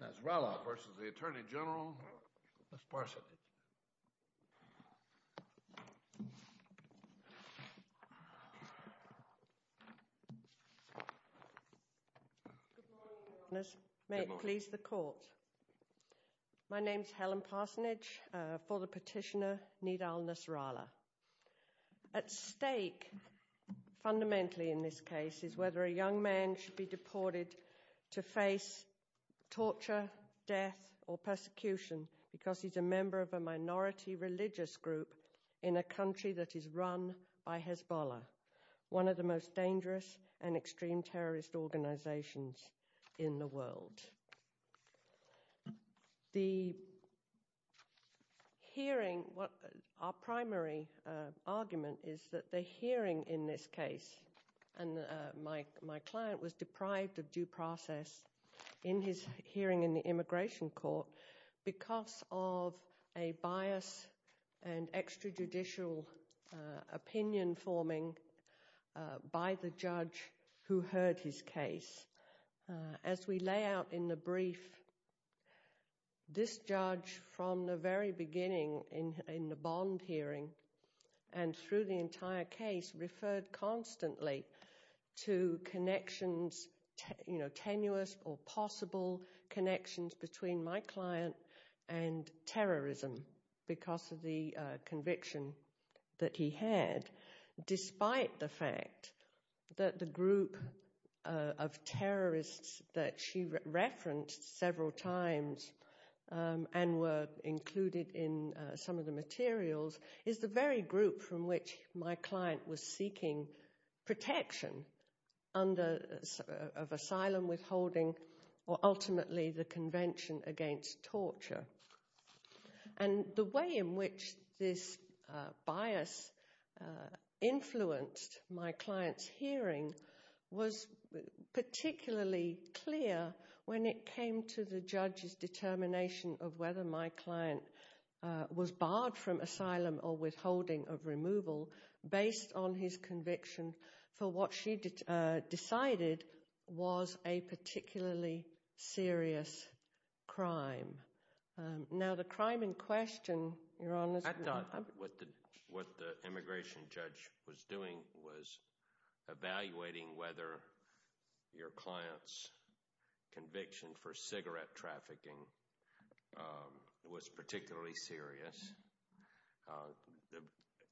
Nasrallah v. U.S. Attorney General Helen Parsonage Good morning, Your Honors. May it please the Court. My name is Helen Parsonage, for the petitioner Nidal Nasrallah. At stake fundamentally in this case is whether a young man should be deported to face torture, death, or persecution because he's a member of a minority religious group in a country that is run by Hezbollah, one of the most dangerous and extreme Our primary argument is that the hearing in this case, and my client was deprived of due process in his hearing in the immigration court because of a bias and extrajudicial opinion forming by the judge who heard his case. As we lay out in the brief, this judge from the very beginning in the bond hearing and through the entire case referred constantly to connections, you know, tenuous or possible connections between my client and terrorism because of the conviction that he had, despite the fact that the group of terrorists that she referenced several times and were included in some of the materials is the very group from which my client was seeking protection of asylum withholding or ultimately the Convention Against Torture. And the way in which this bias influenced my client's hearing was particularly clear when it came to the judge's determination of whether my client was barred from committing this crime. Now the crime in question, Your Honor... I thought what the immigration judge was doing was evaluating whether your client's conviction for cigarette trafficking was particularly serious.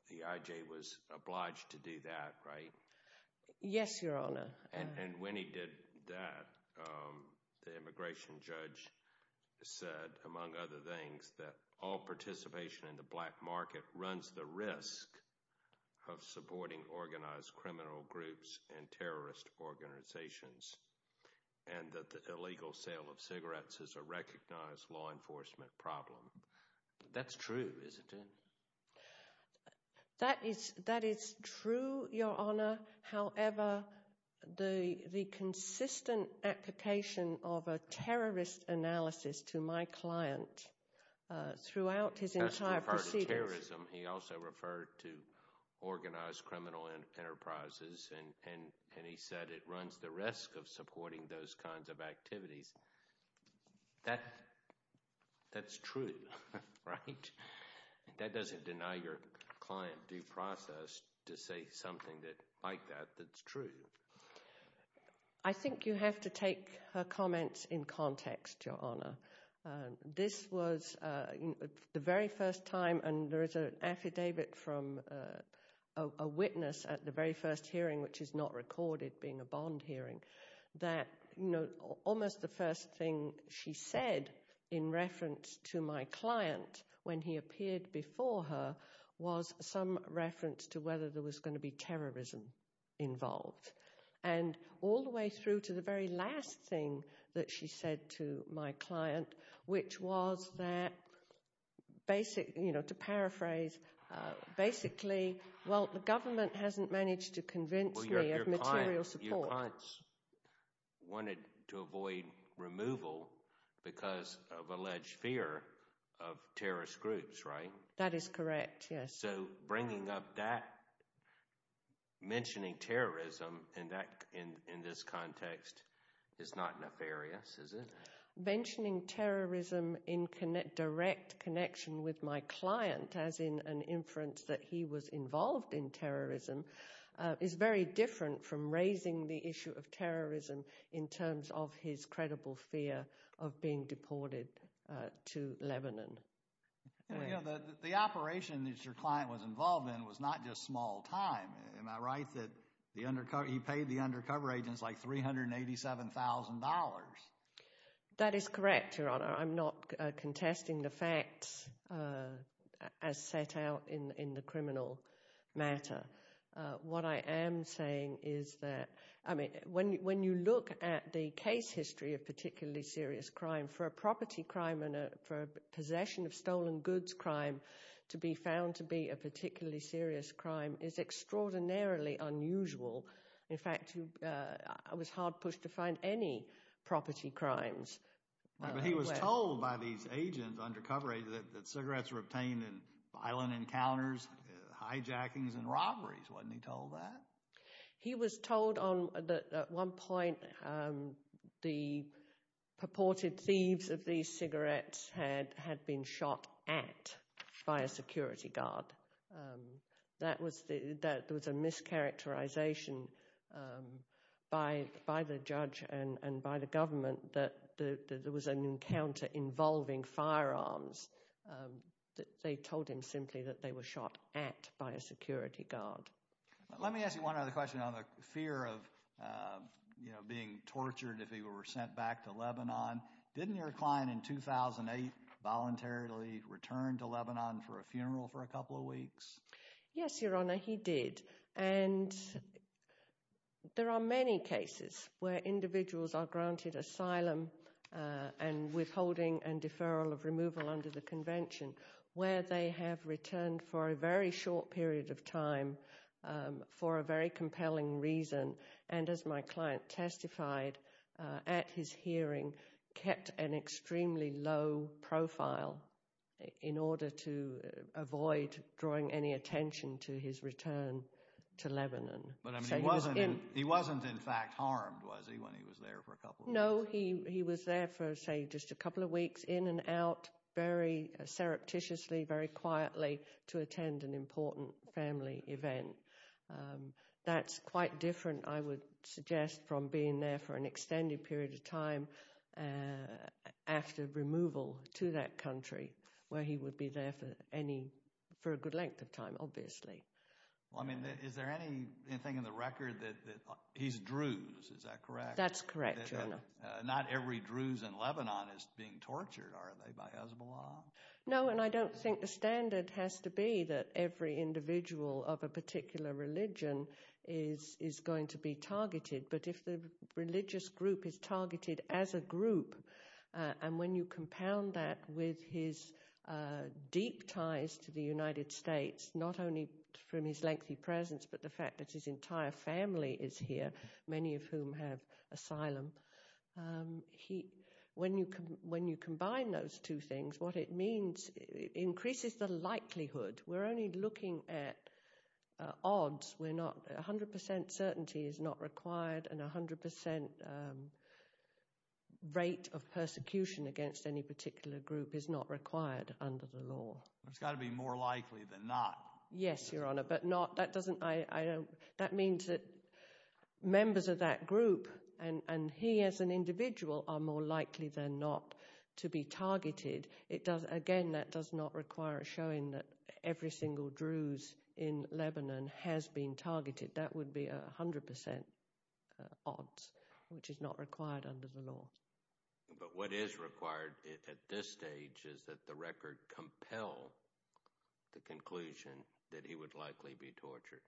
The IJ was obliged to do that, right? Yes, Your Honor. And when he did that, the immigration judge said, among other things, that all participation in the black market runs the risk of supporting organized criminal groups and terrorist organizations and that the illegal sale of cigarettes is a recognized law enforcement problem. That's true, isn't it? That is true, Your Honor. However, the consistent application of a terrorist analysis to my client throughout his entire proceedings... That's referred to terrorism. He also referred to organized criminal enterprises and he said it runs the risk of supporting those kinds of activities. That's true, right? That doesn't deny your client due process to say something like that that's true. I think you have to take her comments in context, Your Honor. This was the very first time... There is an affidavit from a witness at the very first hearing, which is not recorded being a bond hearing, that almost the first thing she said in reference to my client when he appeared before her was some reference to whether there was going to be terrorism involved. And all the way through to the very last thing that she said to my client, which was that basically, you know, to paraphrase, basically, well, the government hasn't managed to convince me of material support. Well, your client wanted to avoid removal because of alleged fear of terrorist groups, right? That is correct, yes. So bringing up that, mentioning terrorism in this context, is not nefarious, is it? Mentioning terrorism in direct connection with my client, as in an inference that he was involved in terrorism, is very different from raising the issue of terrorism in terms of his credible fear of being deported to Lebanon. The operation that your client was involved in was not just small time. Am I right that he paid the undercover agents like $387,000? That is correct, Your Honor. I'm not contesting the facts as set out in the criminal matter. What I am saying is that, I mean, when you look at the case history of particularly serious crime, for a property crime and for a possession of stolen goods crime to be found to be a particularly serious crime is extraordinarily unusual. In fact, I was hard pushed to find any property crimes. But he was told by these agents undercover that cigarettes were obtained in violent encounters, hijackings and robberies, wasn't he told that? He was told that at one point the purported thieves of these cigarettes had been shot at by a security guard. That was a mischaracterization by the judge and by the government that there was an encounter involving firearms. They told him simply that they were shot at by a security guard. Let me ask you one other question on the fear of being tortured if he were sent back to Lebanon. Didn't your client in 2008 voluntarily return to Lebanon for a funeral for a couple of weeks? Yes, Your Honor, he did. And there are many cases where individuals are granted asylum and withholding and deferral of removal under the convention where they have returned for a very short period of time for a very compelling reason. And as my client testified at his hearing, kept an extremely low profile in order to avoid drawing any attention to his return to Lebanon. But he wasn't in fact harmed, was he, when he was there for a couple of weeks? No, he was there for say just a couple of weeks, in and out, very surreptitiously, very quietly to attend an important family event. That's quite different, I would suggest, from being there for an extended period of time after removal to that country where he would be there for a good length of time, obviously. Is there anything in the record that he's Druze, is that correct? That's correct, Your Honor. Not every Druze in Lebanon is being tortured, are they, by Hezbollah? No, and I don't think the standard has to be that every individual of a particular religion is going to be targeted. But if the religious group is targeted as a group, and when you compound that with his deep ties to the United States, not only from his lengthy presence, but the fact that his entire family is here, many of whom have asylum, when you combine those two things, what it means, it increases the likelihood. We're only looking at odds, we're not, 100% certainty is not required, and 100% rate of persecution against any particular group is not required under the law. It's got to be more likely than not. Yes, Your Honor, but not, that doesn't, I don't, that means that members of that group, and he as an individual, are more likely than not to be targeted. It does, again, that does not require a showing that every single Druze in Lebanon has been targeted. That would be 100% odds, which is not required under the law. But what is required at this stage is that the record compel the conclusion that he would likely be tortured.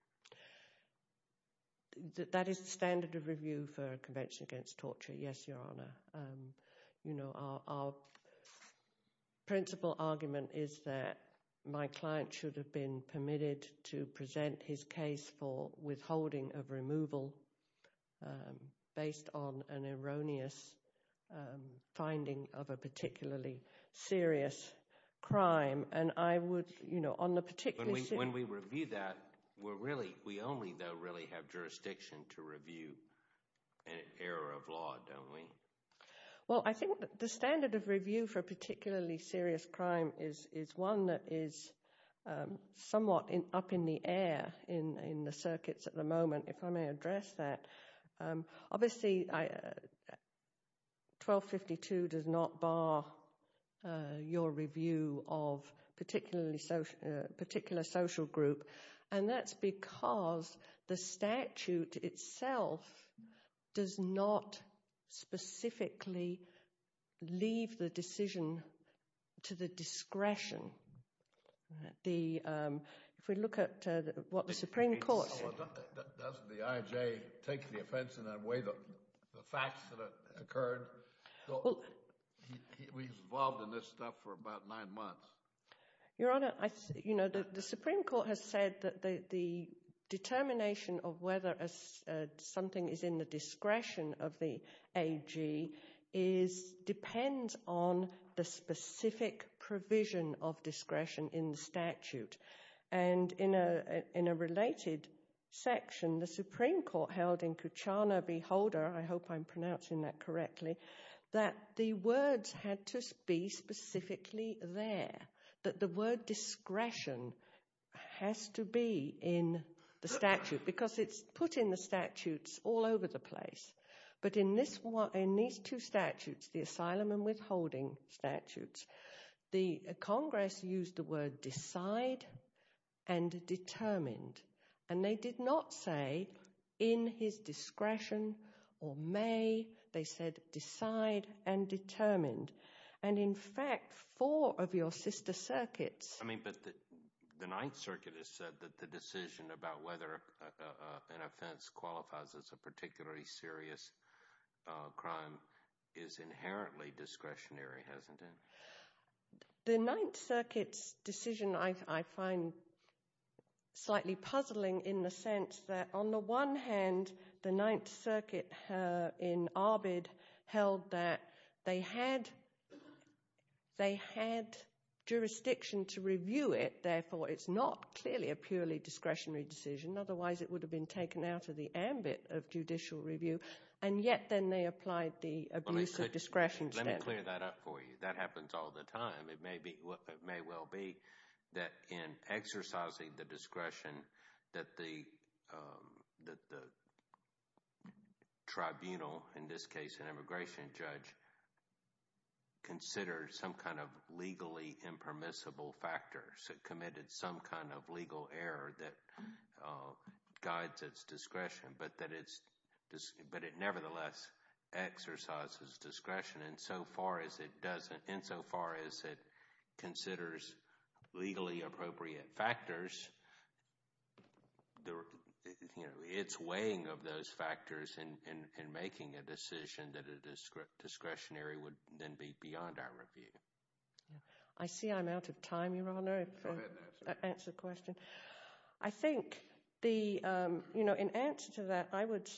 That is the standard of review for a convention against torture, yes, Your Honor. You know, our principal argument is that my client should have been permitted to present his case for withholding of removal based on an erroneous finding of a particularly serious crime. And I would, you know, on the particular... When we review that, we're really, we only, though, really have jurisdiction to review an error of law, don't we? Well, I think the standard of review for a particularly serious crime is one that is somewhat up in the air in the circuits at the moment. If I may address that. Obviously, 1252 does not bar your review of a particular social group, and that's because the statute itself does not specifically leave the decision to the discretion. If we look at what the Supreme Court... Does the IJ take the offense in that way, the facts that occurred? He's involved in this stuff for about nine months. Your Honor, you know, the Supreme Court has said that the determination of whether something is in the discretion of the AG depends on the specific provision of discretion in the statute. And in a related section, the Supreme Court held in Kuchana v. Holder, I hope I'm pronouncing that correctly, that the words had to be specifically there, that the word discretion has to be in the statute, because it's put in the statutes all over the place. But in these two statutes, the asylum and withholding statutes, the Congress used the word decide and determined. And they did not say in his discretion or may. They said decide and determined. And in fact, four of your sister circuits... crime is inherently discretionary, hasn't it? The Ninth Circuit's decision I find slightly puzzling in the sense that on the one hand, the Ninth Circuit in Arbid held that they had jurisdiction to review it. Therefore, it's not clearly a purely discretionary decision. Otherwise, it would have been taken out of the ambit of judicial review. And yet then they applied the abuse of discretion standard. Let me clear that up for you. That happens all the time. It may well be that in exercising the discretion that the tribunal, in this case an immigration judge, considers some kind of legally impermissible factor, so committed some kind of legal error that guides its discretion, but it nevertheless exercises discretion insofar as it considers legally appropriate factors. It's weighing of those factors in making a decision that is discretionary would then be beyond our review. I see I'm out of time, Your Honor, to answer the question. I think in answer to that, I would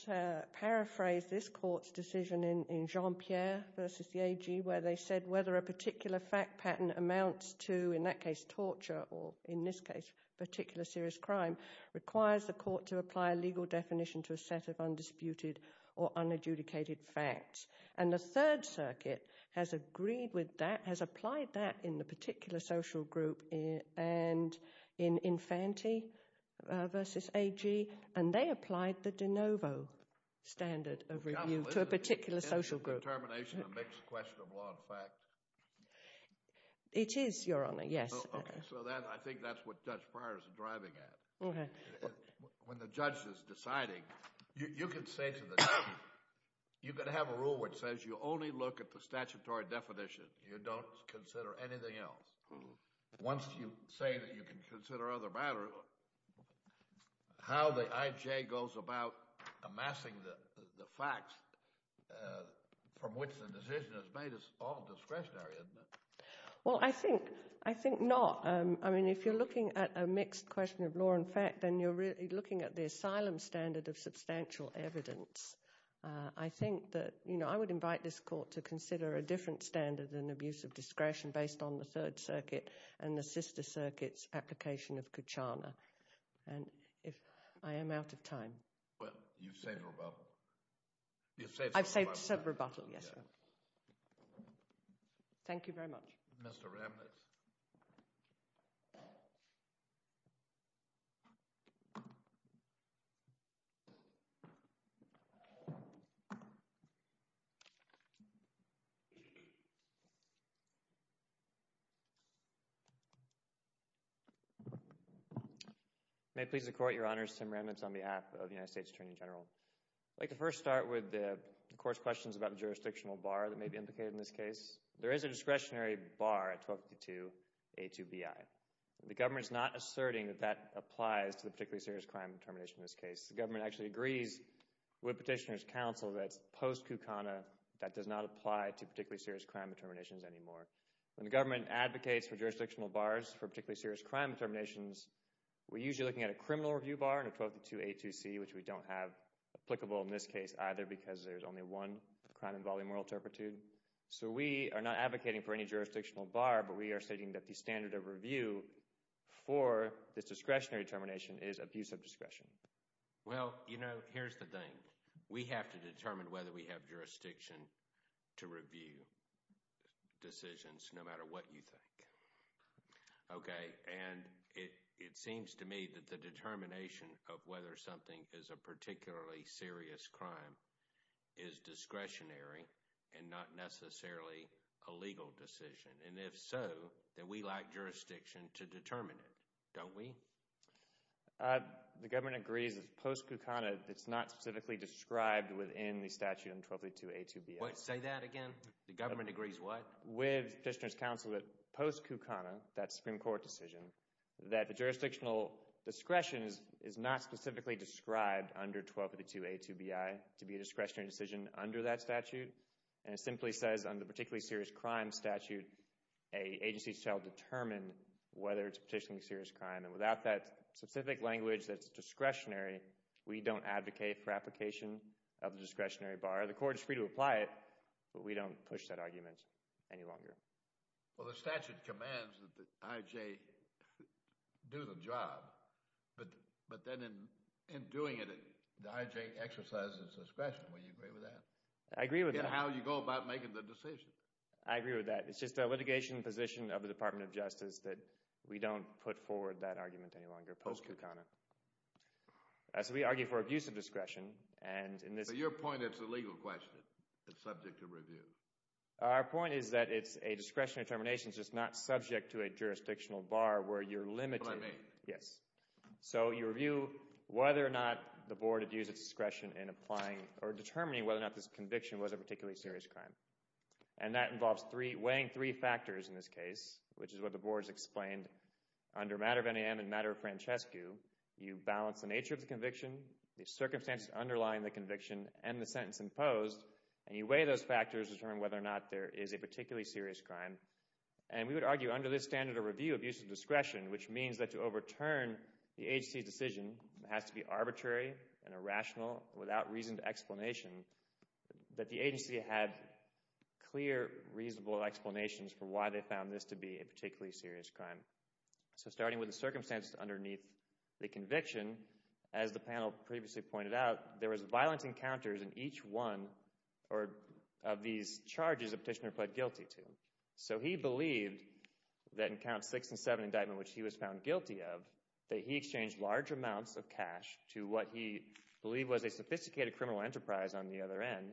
paraphrase this court's decision in Jean-Pierre versus the AG where they said whether a particular fact pattern amounts to, in that case torture, or in this case particular serious crime, requires the court to apply a legal definition to a set of undisputed or unadjudicated facts. And the Third Circuit has agreed with that, has applied that in the particular social group and in Infanti versus AG, and they applied the de novo standard of review to a particular social group. Is that a determination of mixed question of law and fact? It is, Your Honor, yes. Okay. So I think that's what Judge Pryor is driving at. Okay. When the judge is deciding, you can say to the judge, you can have a rule which says you only look at the statutory definition. You don't consider anything else. Once you say that you can consider other matters, how the IJ goes about amassing the facts from which the decision is made is all discretionary, isn't it? Well, I think not. I mean, if you're looking at a mixed question of law and fact, then you're really looking at the asylum standard of substantial evidence. I think that, you know, I would invite this court to consider a different standard than abuse of discretion based on the Third Circuit and the Sister Circuit's application of Kachana. And if I am out of time. Well, you've saved rebuttal. I've saved rebuttal, yes. Okay. Thank you very much. Mr. Remnitz. May it please the Court, Your Honors, Tim Remnitz on behalf of the United States Attorney General. I'd like to first start with the Court's questions about the jurisdictional bar that may be implicated in this case. There is a discretionary bar at 1252A2BI. The government is not asserting that that applies to the particularly serious crime determination in this case. The government actually agrees with Petitioner's Counsel that it's post-Kachana that does not apply to particularly serious crime determinations anymore. When the government advocates for jurisdictional bars for particularly serious crime determinations, we're usually looking at a criminal review bar in 1252A2C, which we don't have applicable in this case either because there's only one crime involving moral turpitude. So we are not advocating for any jurisdictional bar, but we are stating that the standard of review for this discretionary determination is abuse of discretion. Well, you know, here's the thing. We have to determine whether we have jurisdiction to review decisions no matter what you think. Okay, and it seems to me that the determination of whether something is a particularly serious crime is discretionary and not necessarily a legal decision. And if so, then we lack jurisdiction to determine it, don't we? The government agrees it's post-Kachana. It's not specifically described within the statute in 1252A2BI. Say that again? The government agrees what? With Fishner's counsel that post-Kachana, that Supreme Court decision, that the jurisdictional discretion is not specifically described under 1252A2BI to be a discretionary decision under that statute. And it simply says under particularly serious crime statute, an agency shall determine whether it's a particularly serious crime. And without that specific language that's discretionary, we don't advocate for application of the discretionary bar. The court is free to apply it, but we don't push that argument any longer. Well, the statute commands that the I.J. do the job, but then in doing it, the I.J. exercises discretion. Would you agree with that? I agree with that. And how you go about making the decision. I agree with that. It's just the litigation position of the Department of Justice that we don't put forward that argument any longer post-Kachana. So we argue for abuse of discretion. But your point is a legal question. It's subject to review. Our point is that it's a discretionary determination. It's just not subject to a jurisdictional bar where you're limited. That's what I mean. Yes. So you review whether or not the board abused its discretion in applying or determining whether or not this conviction was a particularly serious crime. And that involves weighing three factors in this case, which is what the board has explained under matter of NAM and matter of Francescu. You balance the nature of the conviction, the circumstances underlying the conviction, and the sentence imposed, and you weigh those factors to determine whether or not there is a particularly serious crime. And we would argue under this standard of review, abuse of discretion, which means that to overturn the agency's decision, it has to be arbitrary and irrational without reason to explanation, that the agency had clear, reasonable explanations for why they found this to be a particularly serious crime. So starting with the circumstances underneath the conviction, as the panel previously pointed out, there was violent encounters in each one of these charges the petitioner pled guilty to. So he believed that in Counts 6 and 7 indictment, which he was found guilty of, that he exchanged large amounts of cash to what he believed was a sophisticated criminal enterprise on the other end,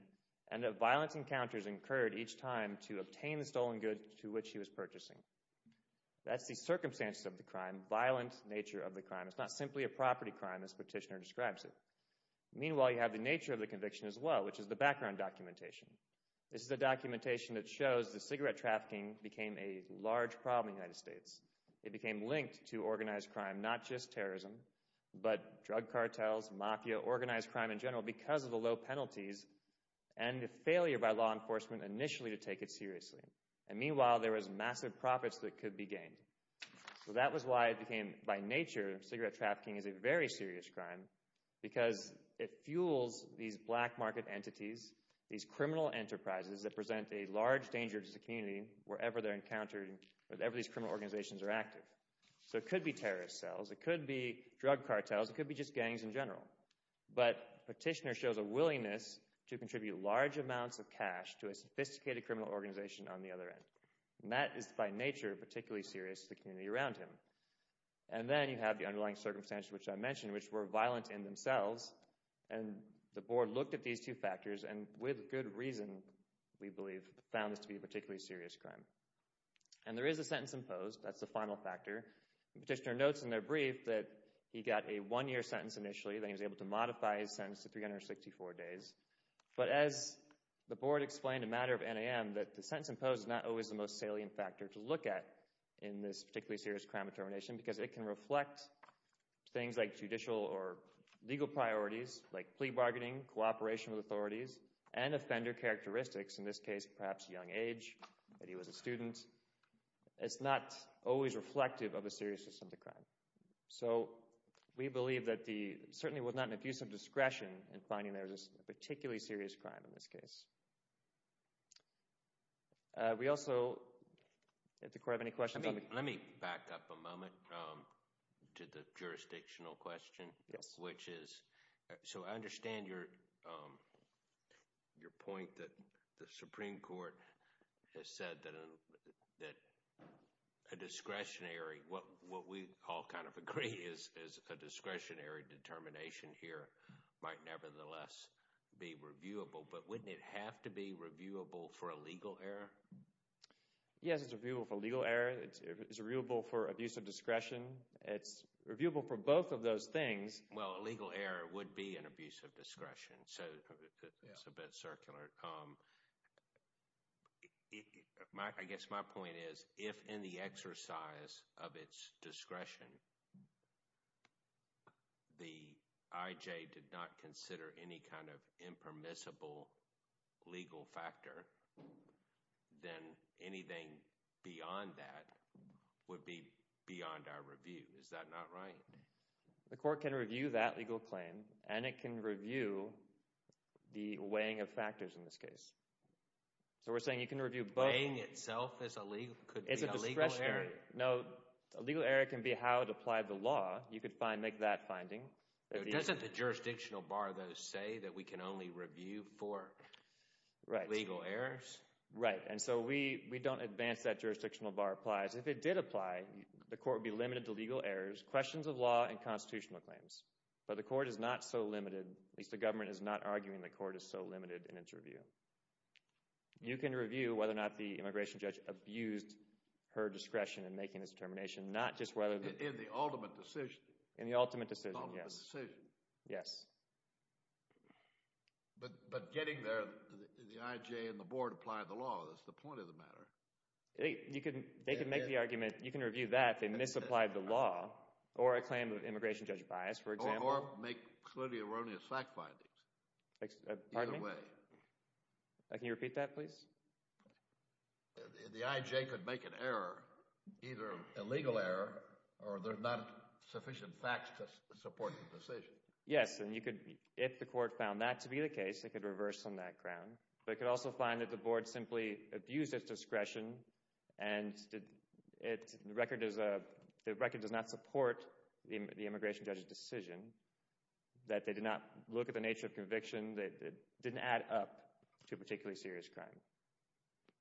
and that violent encounters incurred each time to obtain the stolen goods to which he was purchasing. That's the circumstances of the crime, violent nature of the crime. It's not simply a property crime as petitioner describes it. Meanwhile, you have the nature of the conviction as well, which is the background documentation. This is a documentation that shows that cigarette trafficking became a large problem in the United States. It became linked to organized crime, not just terrorism, but drug cartels, mafia, organized crime in general, because of the low penalties and the failure by law enforcement initially to take it seriously. And meanwhile, there was massive profits that could be gained. So that was why it became, by nature, cigarette trafficking is a very serious crime, because it fuels these black market entities, these criminal enterprises that present a large danger to the community wherever they're encountered, wherever these criminal organizations are active. So it could be terrorist cells, it could be drug cartels, it could be just gangs in general. But petitioner shows a willingness to contribute large amounts of cash to a sophisticated criminal organization on the other end. And that is, by nature, particularly serious to the community around him. And then you have the underlying circumstances, which I mentioned, which were violent in themselves, and the board looked at these two factors and with good reason, we believe, found this to be a particularly serious crime. And there is a sentence imposed. That's the final factor. Petitioner notes in their brief that he got a one-year sentence initially, then he was able to modify his sentence to 364 days. But as the board explained, a matter of NAM, that the sentence imposed is not always the most salient factor to look at in this particularly serious crime of termination, because it can reflect things like judicial or legal priorities, like plea bargaining, cooperation with authorities, and offender characteristics, in this case, perhaps young age, that he was a student. It's not always reflective of a serious or sensitive crime. So we believe that the, certainly with not an abusive discretion in finding that it was a particularly serious crime in this case. We also, did the court have any questions? Let me back up a moment to the jurisdictional question, which is, so I understand your point that the Supreme Court has said that a discretionary, what we all kind of agree is a discretionary determination here, might nevertheless be reviewable. But wouldn't it have to be reviewable for a legal error? Yes, it's reviewable for legal error. It's reviewable for abusive discretion. It's reviewable for both of those things. Well, a legal error would be an abusive discretion, so it's a bit circular. I guess my point is, if in the exercise of its discretion, the IJ did not consider any kind of impermissible legal factor, then anything beyond that would be beyond our review. Is that not right? The court can review that legal claim, and it can review the weighing of factors in this case. So we're saying you can review both. Weighing itself could be a legal error. No, a legal error can be how it applied to law. You could make that finding. Doesn't the jurisdictional bar, though, say that we can only review for legal errors? Right, and so we don't advance that jurisdictional bar applies. If it did apply, the court would be limited to legal errors, questions of law, and constitutional claims. But the court is not so limited. At least the government is not arguing the court is so limited in its review. You can review whether or not the immigration judge abused her discretion in making this determination, not just whether the— In the ultimate decision. In the ultimate decision, yes. In the ultimate decision. Yes. But getting there, the IJ and the board applied the law. That's the point of the matter. They could make the argument, you can review that, they misapplied the law or a claim of immigration judge bias, for example. Or make clearly erroneous fact findings. Pardon me? Either way. Can you repeat that, please? The IJ could make an error, either a legal error or there's not sufficient facts to support the decision. Yes, and you could, if the court found that to be the case, it could reverse on that ground. But it could also find that the board simply abused its discretion and the record does not support the immigration judge's decision, that they did not look at the nature of conviction, that it didn't add up to a particularly serious crime.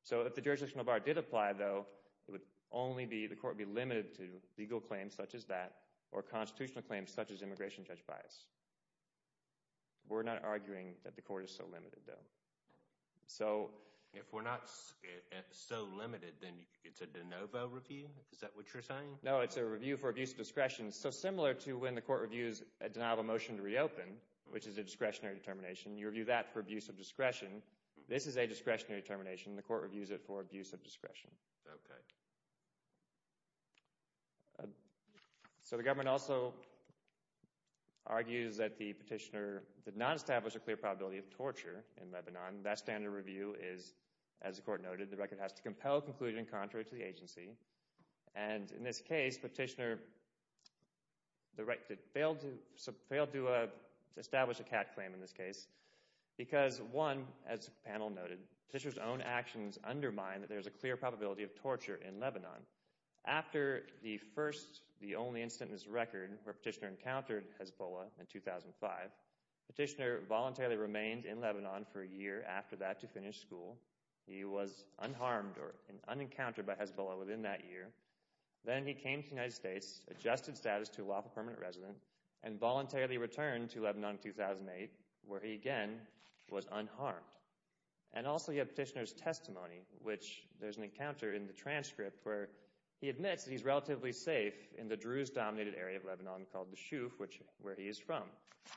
So if the jurisdictional bar did apply, though, it would only be the court would be limited to legal claims such as that or constitutional claims such as immigration judge bias. We're not arguing that the court is so limited, though. So if we're not so limited, then it's a de novo review? Is that what you're saying? No, it's a review for abuse of discretion. So similar to when the court reviews a denial of a motion to reopen, which is a discretionary determination, you review that for abuse of discretion. This is a discretionary determination. The court reviews it for abuse of discretion. Okay. So the government also argues that the petitioner did not establish a clear probability of torture in Lebanon. That standard review is, as the court noted, the record has to compel conclusion contrary to the agency. And in this case, petitioner failed to establish a cat claim in this case because, one, as the panel noted, petitioner's own actions undermine that there's a clear probability of torture in Lebanon. After the first, the only instance in this record where petitioner encountered Hezbollah in 2005, petitioner voluntarily remained in Lebanon for a year after that to finish school. He was unharmed or unencountered by Hezbollah within that year. Then he came to the United States, adjusted status to lawful permanent resident, and voluntarily returned to Lebanon in 2008, where he again was unharmed. And also you have petitioner's testimony, which there's an encounter in the transcript where he admits that he's relatively safe in the Druze-dominated area of Lebanon called the Shouf, which is where he is from.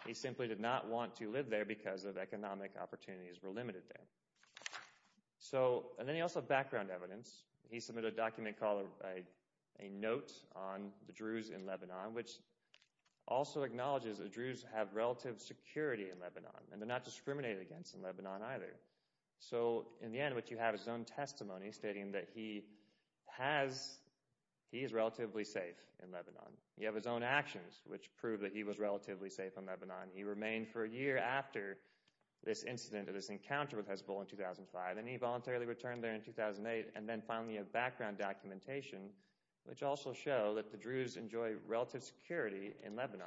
He simply did not want to live there because economic opportunities were limited there. So, and then you also have background evidence. He submitted a document called a note on the Druze in Lebanon, which also acknowledges the Druze have relative security in Lebanon, and they're not discriminated against in Lebanon either. So, in the end, what you have is his own testimony stating that he has, he is relatively safe in Lebanon. You have his own actions, which prove that he was relatively safe in Lebanon. He remained for a year after this incident or this encounter with Hezbollah in 2005, and he voluntarily returned there in 2008, and then finally a background documentation, which also show that the Druze enjoy relative security in Lebanon.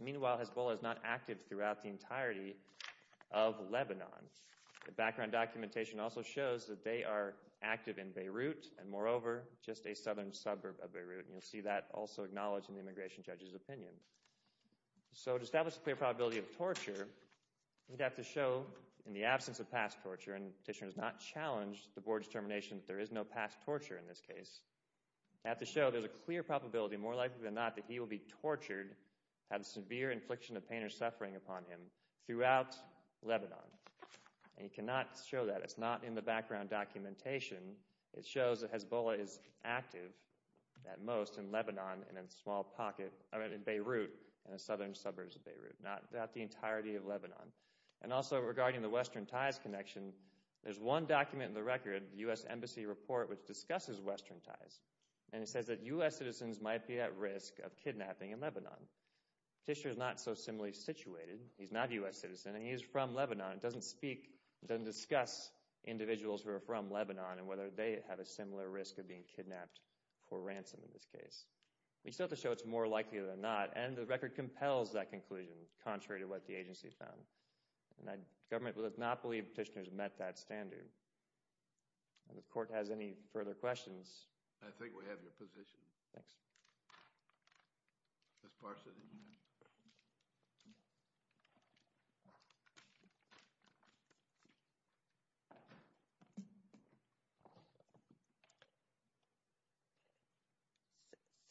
Meanwhile, Hezbollah is not active throughout the entirety of Lebanon. The background documentation also shows that they are active in Beirut, and moreover, just a southern suburb of Beirut. And you'll see that also acknowledged in the immigration judge's opinion. So, to establish a clear probability of torture, you'd have to show in the absence of past torture, and the petitioner has not challenged the board's determination that there is no past torture in this case, you'd have to show there's a clear probability, more likely than not, that he will be tortured, have severe infliction of pain or suffering upon him throughout Lebanon. And you cannot show that. It's not in the background documentation. It shows that Hezbollah is active, at most, in Lebanon and in a small pocket, I mean in Beirut, in the southern suburbs of Beirut, not the entirety of Lebanon. And also, regarding the Western ties connection, there's one document in the record, the U.S. Embassy report, which discusses Western ties, and it says that U.S. citizens might be at risk of kidnapping in Lebanon. The petitioner is not so similarly situated. He's not a U.S. citizen, and he's from Lebanon. It doesn't speak, it doesn't discuss individuals who are from Lebanon and whether they have a similar risk of being kidnapped for ransom in this case. We still have to show it's more likely than not, and the record compels that conclusion, contrary to what the agency found. And the government does not believe petitioners met that standard. If the court has any further questions. I think we have your position. Thanks. Ms. Parsons.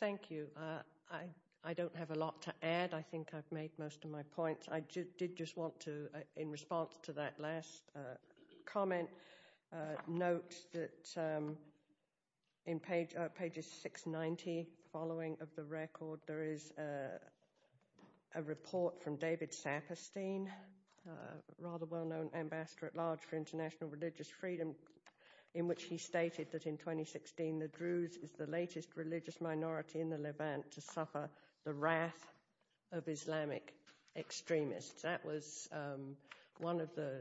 Thank you. I don't have a lot to add. I think I've made most of my points. I did just want to, in response to that last comment, note that in pages 690, following of the record, there is a report from David Saperstein, a rather well-known ambassador at large for international religious freedom, in which he stated that in 2016, the Druze is the latest religious minority in the Levant to suffer the wrath of Islamic extremists. That was one of the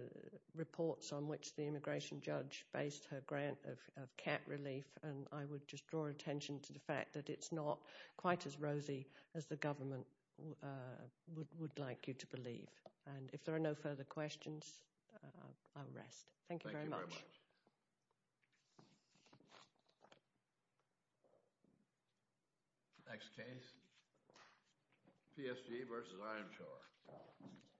reports on which the immigration judge based her grant of cat relief, and I would just draw attention to the fact that it's not quite as rosy as the government would like you to believe. And if there are no further questions, I'll rest. Thank you very much. Thank you very much. Next case. PSG versus Ironshore.